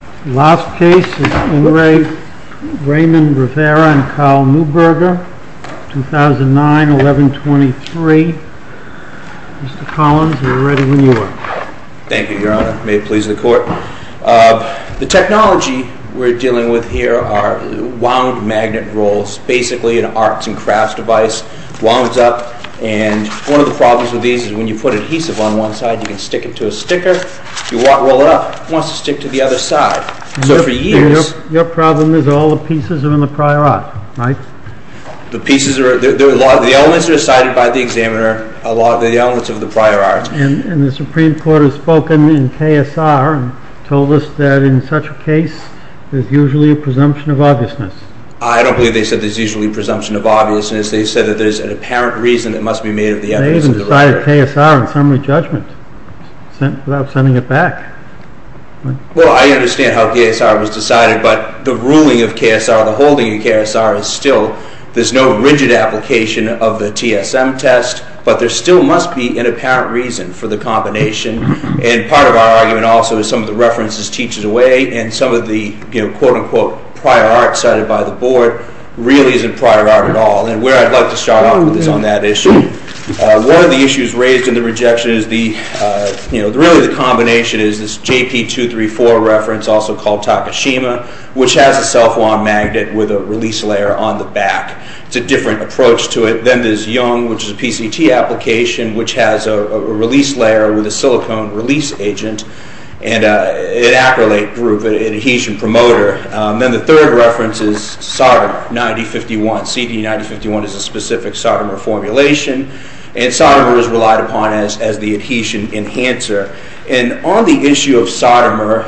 The last case is Unre Raymond Rivera and Carl Neuberger, 2009-11-23. Mr. Collins, we're ready when you are. Thank you, Your Honor. May it please the Court. The technology we're dealing with here are wound magnet rolls, basically an arts and crafts device. It wounds up, and one of the problems with these is when you put adhesive on one side, you can stick it to a sticker. You roll it up, it wants to stick to the other side. Your problem is all the pieces are in the prior art, right? The elements are decided by the examiner, a lot of the elements of the prior art. And the Supreme Court has spoken in KSR and told us that in such a case, there's usually a presumption of obviousness. I don't believe they said there's usually a presumption of obviousness. They said that there's an apparent reason it must be made of the elements of the prior art. They decided KSR in summary judgment, without sending it back. Well, I understand how KSR was decided, but the ruling of KSR, the holding of KSR is still, there's no rigid application of the TSM test, but there still must be an apparent reason for the combination. And part of our argument also is some of the references teaches away, and some of the quote-unquote prior art cited by the Board really isn't prior art at all. And where I'd like to start off is on that issue. One of the issues raised in the rejection is the, you know, really the combination is this JP234 reference, also called Takashima, which has a self-wound magnet with a release layer on the back. It's a different approach to it. Then there's Young, which is a PCT application, which has a release layer with a silicone release agent, and an acrylate group, an adhesion promoter. Then the third reference is Sodomer 9051. CD 9051 is a specific Sodomer formulation, and Sodomer is relied upon as the adhesion enhancer. And on the issue of Sodomer,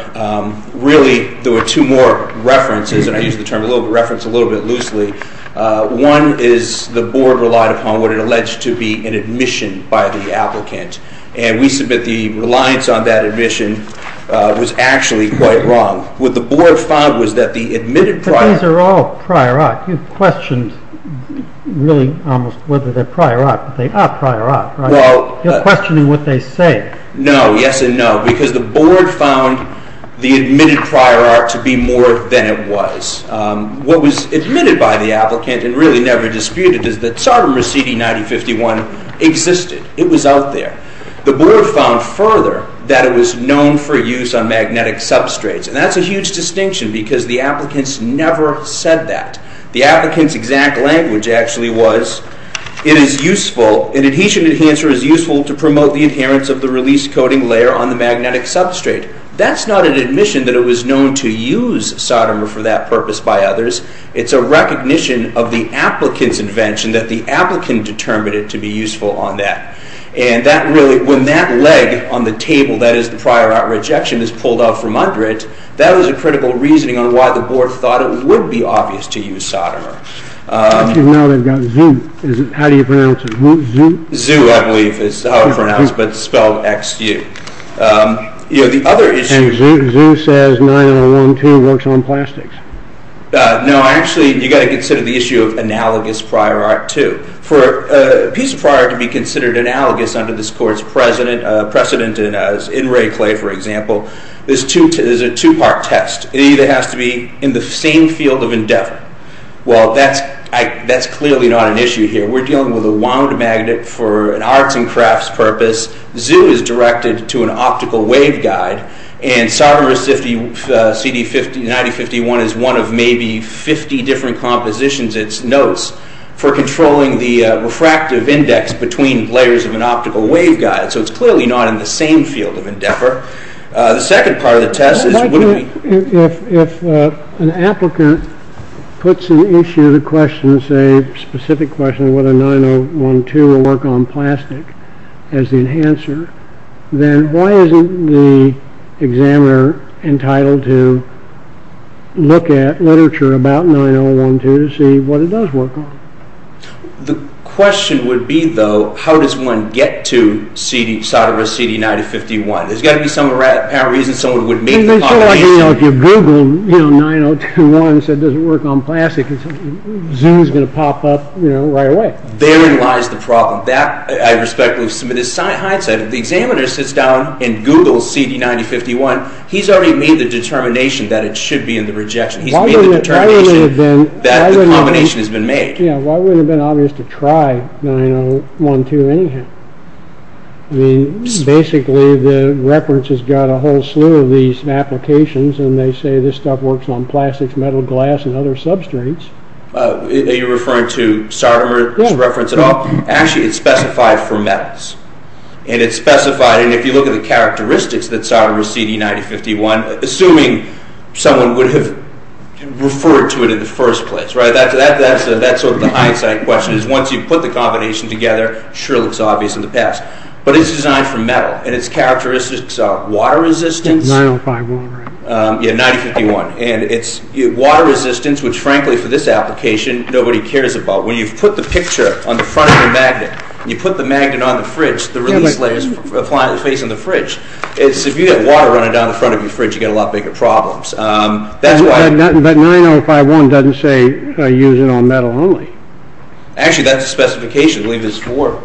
really there were two more references, and I use the term reference a little bit loosely. One is the Board relied upon what it alleged to be an admission by the applicant, and we submit the reliance on that admission was actually quite wrong. What the Board found was that the admitted prior... But these are all prior art. You've questioned really almost whether they're prior art, but they are prior art, right? You're questioning what they say. No, yes and no, because the Board found the admitted prior art to be more than it was. What was admitted by the applicant and really never disputed is that Sodomer CD 9051 existed. It was out there. The Board found further that it was known for use on magnetic substrates, and that's a huge distinction because the applicants never said that. The applicants' exact language actually was it is useful, an adhesion enhancer is useful to promote the adherence of the release coating layer on the magnetic substrate. That's not an admission that it was known to use Sodomer for that purpose by others. It's a recognition of the applicant's invention that the applicant determined it to be useful on that. When that leg on the table, that is the prior art rejection, is pulled off from under it, that was a critical reasoning on why the Board thought it would be obvious to use Sodomer. Now they've got Zoo. How do you pronounce it? Zoo, I believe, is how it's pronounced, but it's spelled X-U. Zoo says 9012 works on plastics. No, actually, you've got to consider the issue of analogous prior art, too. For a piece of prior art to be considered analogous under this Court's precedent, in Rayclay, for example, there's a two-part test. It either has to be in the same field of endeavor. Well, that's clearly not an issue here. We're dealing with a wound magnet for an arts and crafts purpose. Zoo is directed to an optical waveguide, and Sodomer CD9051 is one of maybe 50 different compositions. It's notes for controlling the refractive index between layers of an optical waveguide. So it's clearly not in the same field of endeavor. The second part of the test is wouldn't we... If an applicant puts an issue, a specific question, whether 9012 will work on plastic as the enhancer, then why isn't the examiner entitled to look at literature about 9012 to see what it does work on? The question would be, though, how does one get to Sodomer CD9051? There's got to be some apparent reason someone would meet... If you Google 9021 and said it doesn't work on plastic, Zoo's going to pop up right away. Therein lies the problem. That, I respect with some of this hindsight. If the examiner sits down and Googles CD9051, he's already made the determination that it should be in the rejection. He's made the determination that the combination has been made. Why wouldn't it have been obvious to try 9012 anyhow? Basically, the reference has got a whole slew of these applications, and they say this stuff works on plastics, metal, glass, and other substrates. Are you referring to Sodomer's reference at all? Actually, it's specified for metals. And it's specified, and if you look at the characteristics that Sodomer CD9051, assuming someone would have referred to it in the first place, that's sort of the hindsight question. Once you put the combination together, it sure looks obvious in the past. But it's designed for metal, and its characteristics are water-resistant. 9051, right? Yeah, 9051. And it's water-resistant, which, frankly, for this application, nobody cares about. When you put the picture on the front of the magnet, and you put the magnet on the fridge, the release layer is facing the fridge. If you have water running down the front of your fridge, you get a lot bigger problems. But 9051 doesn't say use it on metal only. Actually, that's the specification. I believe it's for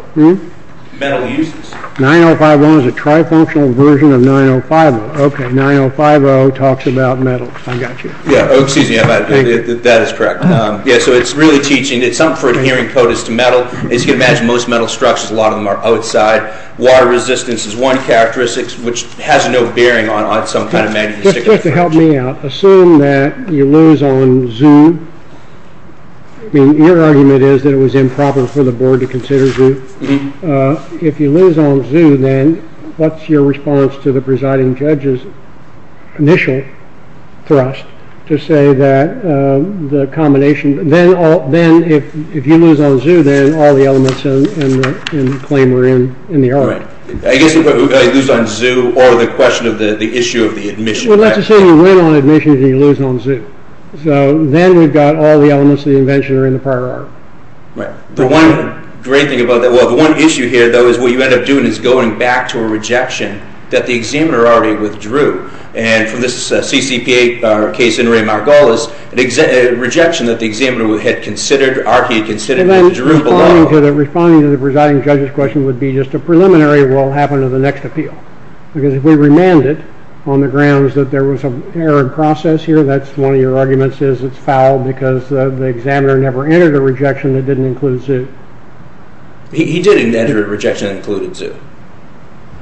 metal uses. 9051 is a tri-functional version of 9050. Okay, 9050 talks about metal. I got you. Yeah, that is correct. So it's really teaching. It's something for adhering coatings to metal. As you can imagine, most metal structures, a lot of them are outside. Water resistance is one characteristic, which has no bearing on some kind of magnetic effect. Just to help me out, assume that you lose on ZOO. I mean, your argument is that it was improper for the board to consider ZOO. If you lose on ZOO, then what's your response to the presiding judge's initial thrust to say that the combination If you lose on ZOO, then all the elements in the claim are in the art. I guess you lose on ZOO or the question of the issue of the admission. Well, let's just say you win on admission and you lose on ZOO. So then we've got all the elements of the invention are in the prior art. The one great thing about that. Well, the one issue here, though, is what you end up doing is going back to a rejection that the examiner already withdrew. And for this CCPA case in Ray Margolis, a rejection that the examiner had considered, already considered, withdrew below. Responding to the presiding judge's question would be just a preliminary will happen to the next appeal. Because if we remanded on the grounds that there was an error in process here, that's one of your arguments is it's fouled because the examiner never entered a rejection that didn't include ZOO. He did enter a rejection that included ZOO.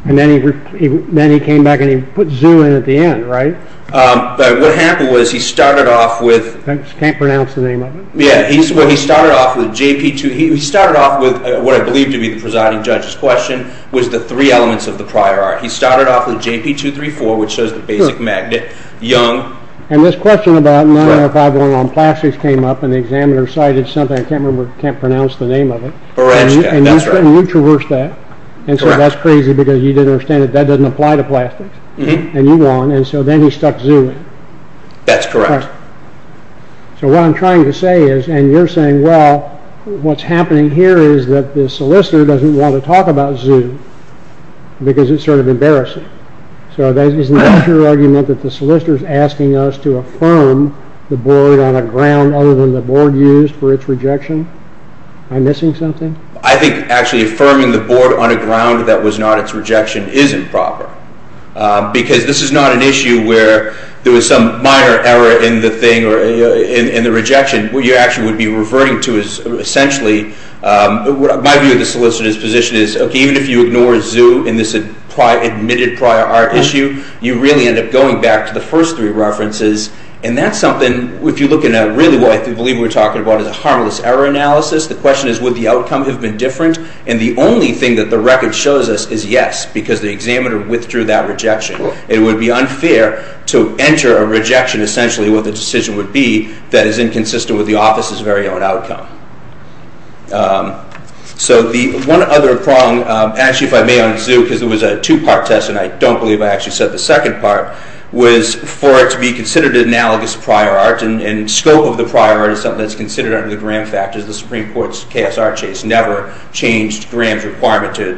And then he came back and he put ZOO in at the end, right? But what happened was he started off with. Can't pronounce the name of it. Yeah, he started off with JP2. He started off with what I believe to be the presiding judge's question was the three elements of the prior art. He started off with JP234, which shows the basic magnet. Young. And this question about 9051 on plastics came up and the examiner cited something. I can't remember, can't pronounce the name of it. And you traversed that. And so that's crazy because you didn't understand that that doesn't apply to plastics. And you won. And so then he stuck ZOO in. That's correct. So what I'm trying to say is, and you're saying, well, what's happening here is that the solicitor doesn't want to talk about ZOO because it's sort of embarrassing. So isn't that your argument that the solicitor is asking us to affirm the board on a ground other than the board used for its rejection? Am I missing something? I think actually affirming the board on a ground that was not its rejection isn't proper because this is not an issue where there was some minor error in the thing or in the rejection. What you actually would be reverting to is essentially, my view of the solicitor's position is, okay, even if you ignore ZOO in this admitted prior art issue, you really end up going back to the first three references. And that's something, if you look at really what I believe we're talking about is a harmless error analysis. The question is, would the outcome have been different? And the only thing that the record shows us is yes because the examiner withdrew that rejection. It would be unfair to enter a rejection, essentially what the decision would be, that is inconsistent with the office's very own outcome. So the one other prong, actually if I may on ZOO because it was a two-part test and I don't believe I actually said the second part, was for it to be considered an analogous prior art and scope of the prior art is something that's considered under the Graham factors. The Supreme Court's KSR chase never changed Graham's requirement to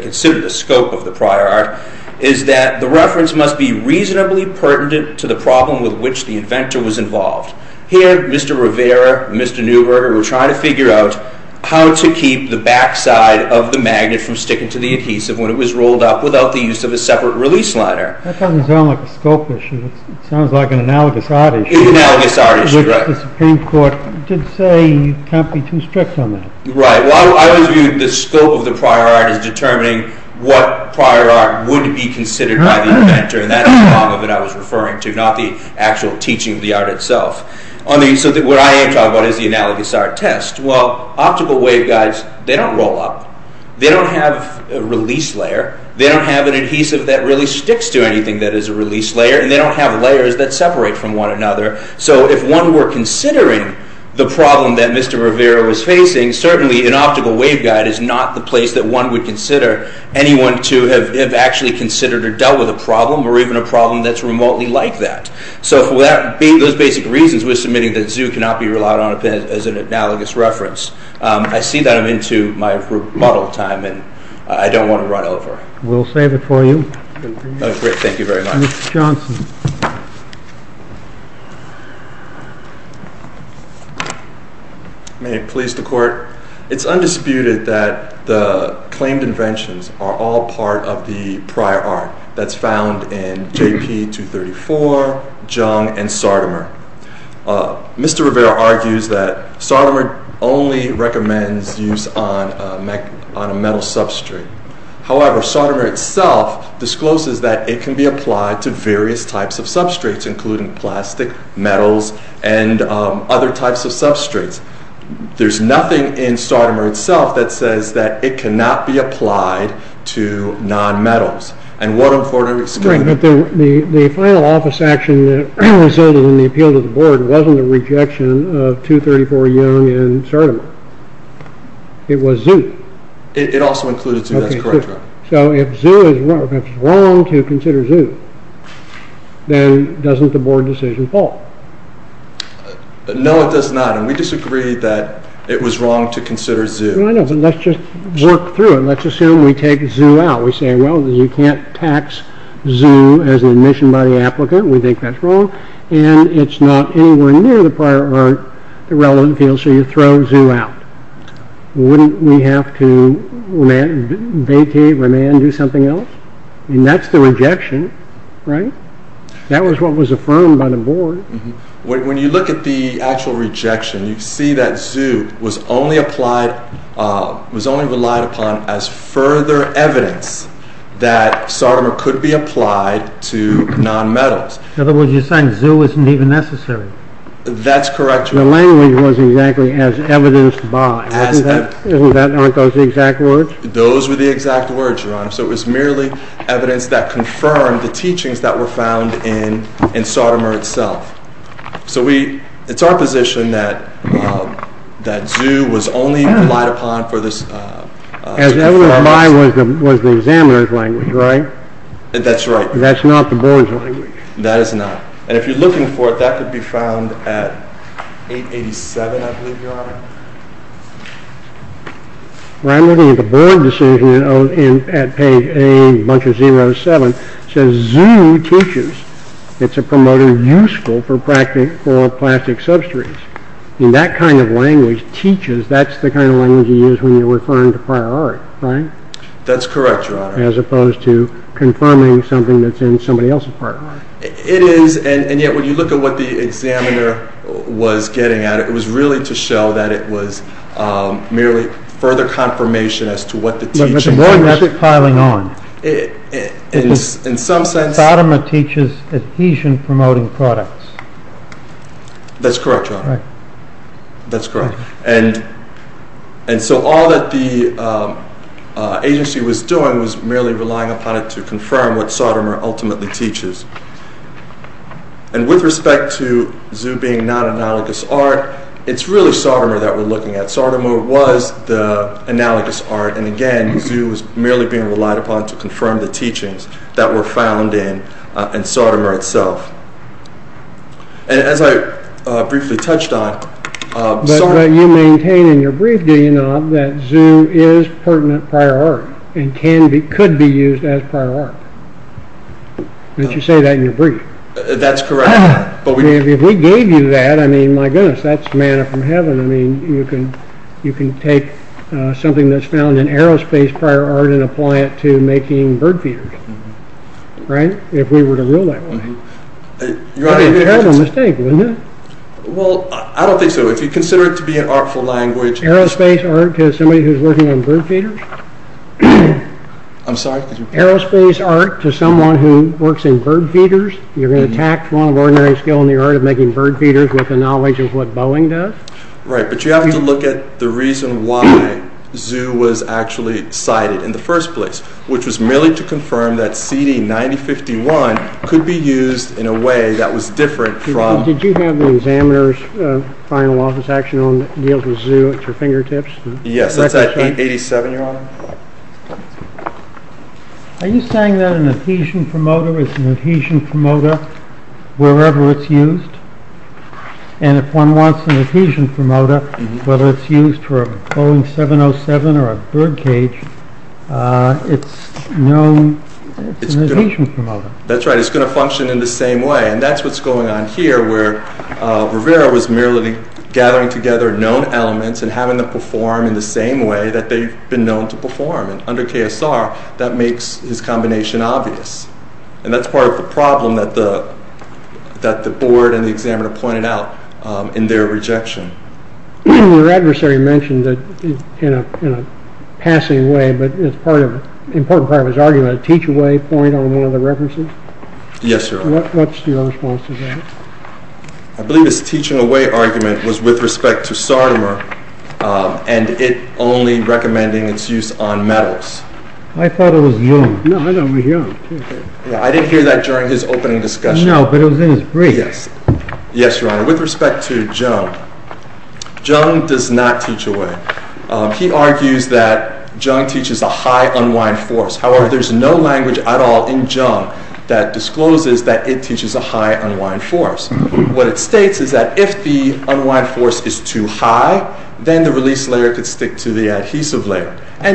consider the scope of the prior art, is that the reference must be reasonably pertinent to the problem with which the inventor was involved. Here, Mr. Rivera, Mr. Neuberger were trying to figure out how to keep the backside of the magnet from sticking to the adhesive when it was rolled up without the use of a separate release liner. That doesn't sound like a scope issue, it sounds like an analogous art issue. An analogous art issue, right. Which the Supreme Court did say you can't be too strict on that. Right, well I always viewed the scope of the prior art as determining what prior art would be considered by the inventor and that's the prong of it I was referring to, not the actual teaching of the art itself. So what I am talking about is the analogous art test. Well, optical waveguides, they don't roll up, they don't have a release layer, they don't have an adhesive that really sticks to anything that is a release layer, and they don't have layers that separate from one another. So if one were considering the problem that Mr. Rivera was facing, certainly an optical waveguide is not the place that one would consider anyone to have actually considered or dealt with a problem, or even a problem that's remotely like that. So for those basic reasons, we're submitting that ZOO cannot be relied on as an analogous reference. I see that I'm into my remodel time and I don't want to run over. We'll save it for you. Great, thank you very much. Mr. Johnson. May it please the Court. It's undisputed that the claimed inventions are all part of the prior art that's found in J.P. 234, Jung, and Sardimer. Mr. Rivera argues that Sardimer only recommends use on a metal substrate. However, Sardimer itself discloses that it can be applied to various types of substrates, including plastic, metals, and other types of substrates. There's nothing in Sardimer itself that says that it cannot be applied to non-metals. Great, but the final office action that resulted in the appeal to the Board wasn't a rejection of 234, Jung, and Sardimer. It was ZOO. It also included ZOO, that's correct. So if ZOO is wrong to consider ZOO, then doesn't the Board decision fall? No, it does not, and we disagree that it was wrong to consider ZOO. Well, I know, but let's just work through it. Let's assume we take ZOO out. We say, well, you can't tax ZOO as an admission by the applicant. We think that's wrong, and it's not anywhere near the prior art, the relevant field, so you throw ZOO out. Wouldn't we have to vete, remand, do something else? And that's the rejection, right? That was what was affirmed by the Board. When you look at the actual rejection, you see that ZOO was only relied upon as further evidence that Sardimer could be applied to non-metals. In other words, you're saying ZOO isn't even necessary. That's correct, Your Honor. The language was exactly as evidenced by. As evidenced. Weren't those the exact words? Those were the exact words, Your Honor, so it was merely evidence that confirmed the teachings that were found in Sardimer itself. So it's our position that ZOO was only relied upon for this. As evidenced by was the examiner's language, right? That's right. That's not the Board's language. That is not, and if you're looking for it, that could be found at 887, I believe, Your Honor. Well, I'm looking at the Board decision at page A, bunch of 07. It says ZOO teaches. It's a promoter useful for plastic substrates. And that kind of language, teaches, that's the kind of language you use when you're referring to prior art, right? That's correct, Your Honor. As opposed to confirming something that's in somebody else's program. It is, and yet when you look at what the examiner was getting at, it was really to show that it was merely further confirmation as to what the teaching was. But the more that's piling on, Sardimer teaches adhesion-promoting products. That's correct, Your Honor. That's correct. And so all that the agency was doing was merely relying upon it to confirm what Sardimer ultimately teaches. And with respect to ZOO being non-analogous art, it's really Sardimer that we're looking at. Sardimer was the analogous art, and again, ZOO was merely being relied upon to confirm the teachings that were found in Sardimer itself. And as I briefly touched on... But you maintain in your brief, do you not, that ZOO is pertinent prior art, and could be used as prior art. Don't you say that in your brief? That's correct, Your Honor. If we gave you that, I mean, my goodness, that's manna from heaven. I mean, you can take something that's found in aerospace prior art and apply it to making bird feeders, right? If we were to rule that way. That would be a terrible mistake, wouldn't it? Well, I don't think so. If you consider it to be an artful language... Aerospace art to somebody who's working on bird feeders? I'm sorry? Aerospace art to someone who works in bird feeders? You're going to attack one ordinary skill in the art of making bird feeders with the knowledge of what Boeing does? Right, but you have to look at the reason why ZOO was actually cited in the first place, which was merely to confirm that CD9051 could be used in a way that was different from... Did you have the examiner's final office action on deals with ZOO at your fingertips? Yes, that's at 87, Your Honor. Are you saying that an adhesion promoter is an adhesion promoter wherever it's used? And if one wants an adhesion promoter, whether it's used for a Boeing 707 or a birdcage, it's known as an adhesion promoter. That's right. It's going to function in the same way. And that's what's going on here where Rivera was merely gathering together known elements and having them perform in the same way that they've been known to perform. And under KSR, that makes his combination obvious. And that's part of the problem that the board and the examiner pointed out in their rejection. Your adversary mentioned that in a passing way, but it's an important part of his argument, a teach-away point on one of the references. Yes, Your Honor. What's your response to that? I believe his teaching-away argument was with respect to Sardimer and it only recommending its use on metals. I thought it was young. I didn't hear that during his opening discussion. No, but it was in his brief. Yes, Your Honor. With respect to Jung, Jung does not teach away. He argues that Jung teaches a high unwind force. However, there's no language at all in Jung that discloses that it teaches a high unwind force. What it states is that if the unwind force is too high, then the release layer could stick to the adhesive layer. So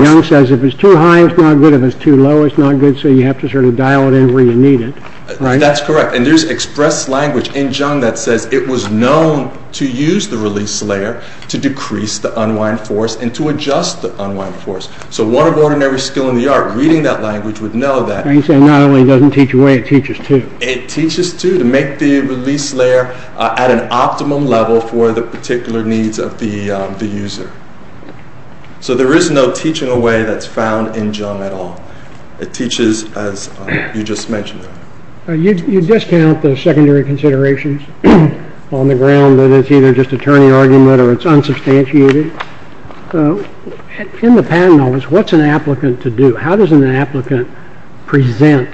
Jung says if it's too high, it's not good. If it's too low, it's not good. So you have to dial it in where you need it. That's correct. And there's expressed language in Jung that says it was known to use the release layer to decrease the unwind force and to adjust the unwind force. So one of ordinary skill in the art, reading that language, would know that. He said not only does it teach away, it teaches too. It teaches too to make the release layer at an optimum level for the particular needs of the user. So there is no teaching away that's found in Jung at all. It teaches as you just mentioned. You discount the secondary considerations on the ground that it's either just a turning argument or it's unsubstantiated. In the patent office, what's an applicant to do? How does an applicant present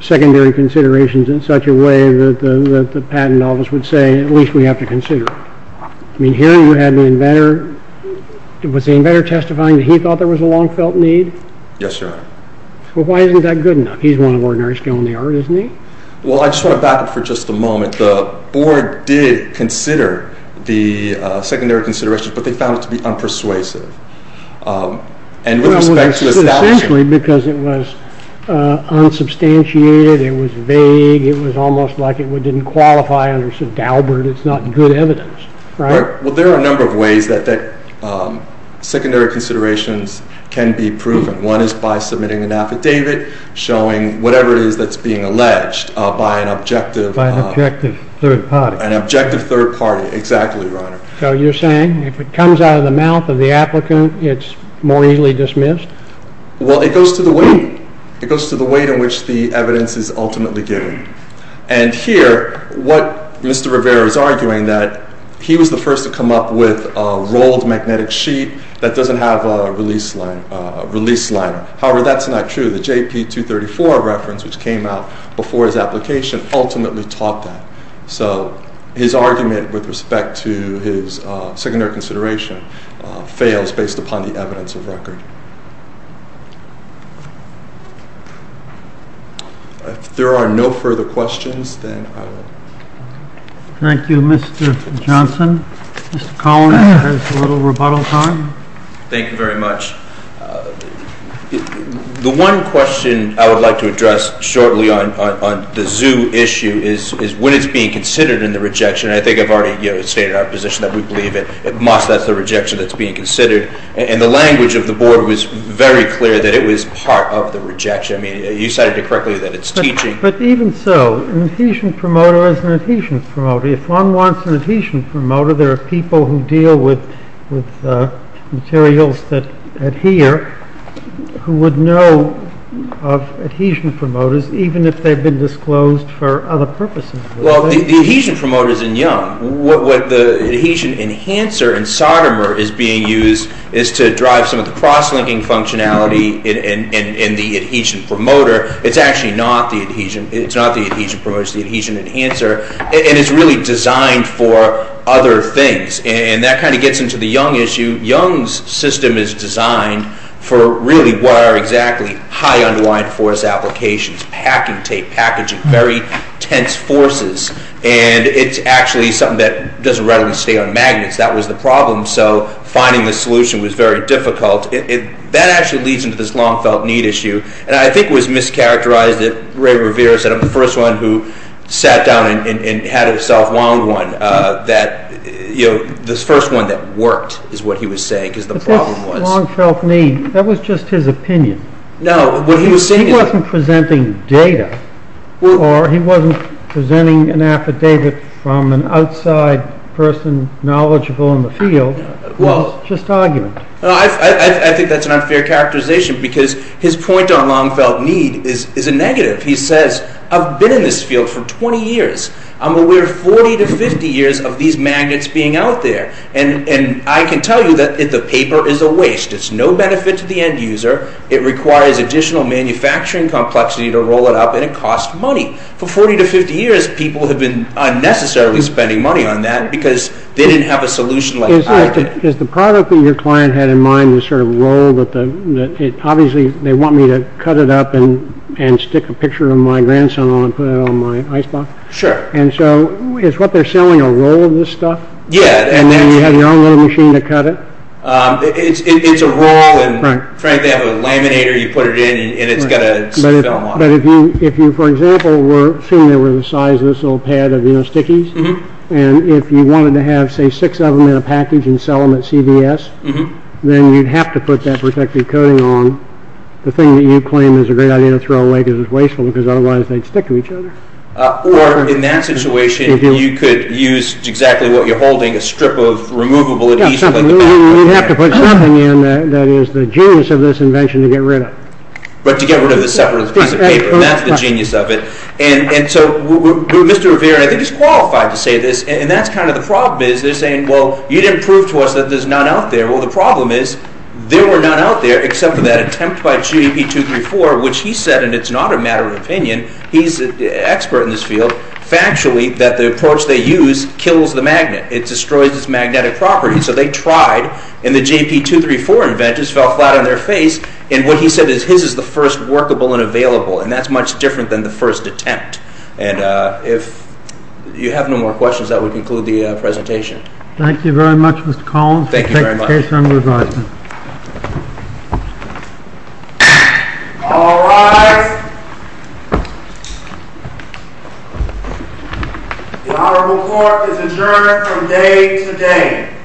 secondary considerations in such a way that the patent office would say, at least we have to consider it? I mean, here you had the inventor. Was the inventor testifying that he thought there was a long-felt need? Yes, sir. Well, why isn't that good enough? He's one of ordinary skill in the art, isn't he? Well, I just want to back up for just a moment. The board did consider the secondary considerations, but they found it to be unpersuasive. Well, essentially because it was unsubstantiated. It was vague. It was almost like it didn't qualify under St. Albert. It's not good evidence, right? Well, there are a number of ways that secondary considerations can be proven. One is by submitting an affidavit showing whatever it is that's being alleged by an objective third party. An objective third party. Exactly, Your Honor. So you're saying if it comes out of the mouth of the applicant, it's more easily dismissed? Well, it goes to the weight. It goes to the weight in which the evidence is ultimately given. And here, what Mr. Rivera is arguing that he was the first to come up with a rolled magnetic sheet that doesn't have a release liner. However, that's not true. The JP234 reference, which came out before his application, ultimately taught that. So his argument with respect to his secondary consideration fails based upon the evidence of record. If there are no further questions, then I will. Thank you, Mr. Johnson. Mr. Collins has a little rebuttal time. Thank you very much. The one question I would like to address shortly on the zoo issue is when it's being considered in the rejection. I think I've already stated our position that we believe it must. That's the rejection that's being considered. And the language of the board was very clear that it was part of the rejection. I mean, you cited it correctly that it's teaching. But even so, an adhesion promoter is an adhesion promoter. If one wants an adhesion promoter, there are people who deal with materials that adhere, who would know of adhesion promoters, even if they've been disclosed for other purposes. Well, the adhesion promoter is in Young. What the adhesion enhancer in Sodomer is being used is to drive some of the cross-linking functionality in the adhesion promoter. It's actually not the adhesion. It's not the adhesion promoter. It's the adhesion enhancer. And it's really designed for other things. And that kind of gets into the Young issue. Young's system is designed for really what are exactly high-unwind force applications, packing tape, packaging, very tense forces. And it's actually something that doesn't readily stay on magnets. That was the problem. So finding the solution was very difficult. That actually leads into this long-felt need issue. And I think it was mischaracterized that Ray Revere said I'm the first one who sat down and had a self-wound one, that the first one that worked is what he was saying, because the problem was— But that's long-felt need. That was just his opinion. No, what he was saying is— He wasn't presenting data, or he wasn't presenting an affidavit from an outside person knowledgeable in the field. It was just argument. I think that's an unfair characterization because his point on long-felt need is a negative. He says, I've been in this field for 20 years. I'm aware of 40 to 50 years of these magnets being out there. And I can tell you that the paper is a waste. It's no benefit to the end user. It requires additional manufacturing complexity to roll it up, and it costs money. For 40 to 50 years, people have been unnecessarily spending money on that because they didn't have a solution like I did. Is the product that your client had in mind this sort of roll that— Obviously, they want me to cut it up and stick a picture of my grandson on it and put it on my icebox. Sure. And so is what they're selling a roll of this stuff? Yeah. And you have your own little machine to cut it? It's a roll, and frankly, they have a laminator. You put it in, and it's got a film on it. But if you, for example, were—assuming they were the size of this little pad of stickies, and if you wanted to have, say, six of them in a package and sell them at CVS, then you'd have to put that protective coating on. The thing that you claim is a great idea to throw away because it's wasteful because otherwise they'd stick to each other. Or in that situation, you could use exactly what you're holding, a strip of removable adhesive like the pad. You'd have to put something in that is the genius of this invention to get rid of it. But to get rid of the separate piece of paper, and that's the genius of it. And so Mr. Rivera, I think he's qualified to say this, and that's kind of the problem is they're saying, well, you didn't prove to us that there's none out there. Well, the problem is there were none out there except for that attempt by J.P. 234, which he said, and it's not a matter of opinion, he's an expert in this field, factually that the approach they use kills the magnet. It destroys its magnetic property. So they tried, and the J.P. 234 inventors fell flat on their face, and what he said is his is the first workable and available, and that's much different than the first attempt. And if you have no more questions, that would conclude the presentation. Thank you very much, Mr. Collins. Thank you very much. We'll take the case under advisement. All rise. The Honorable Court is adjourned from day to day. Thank you.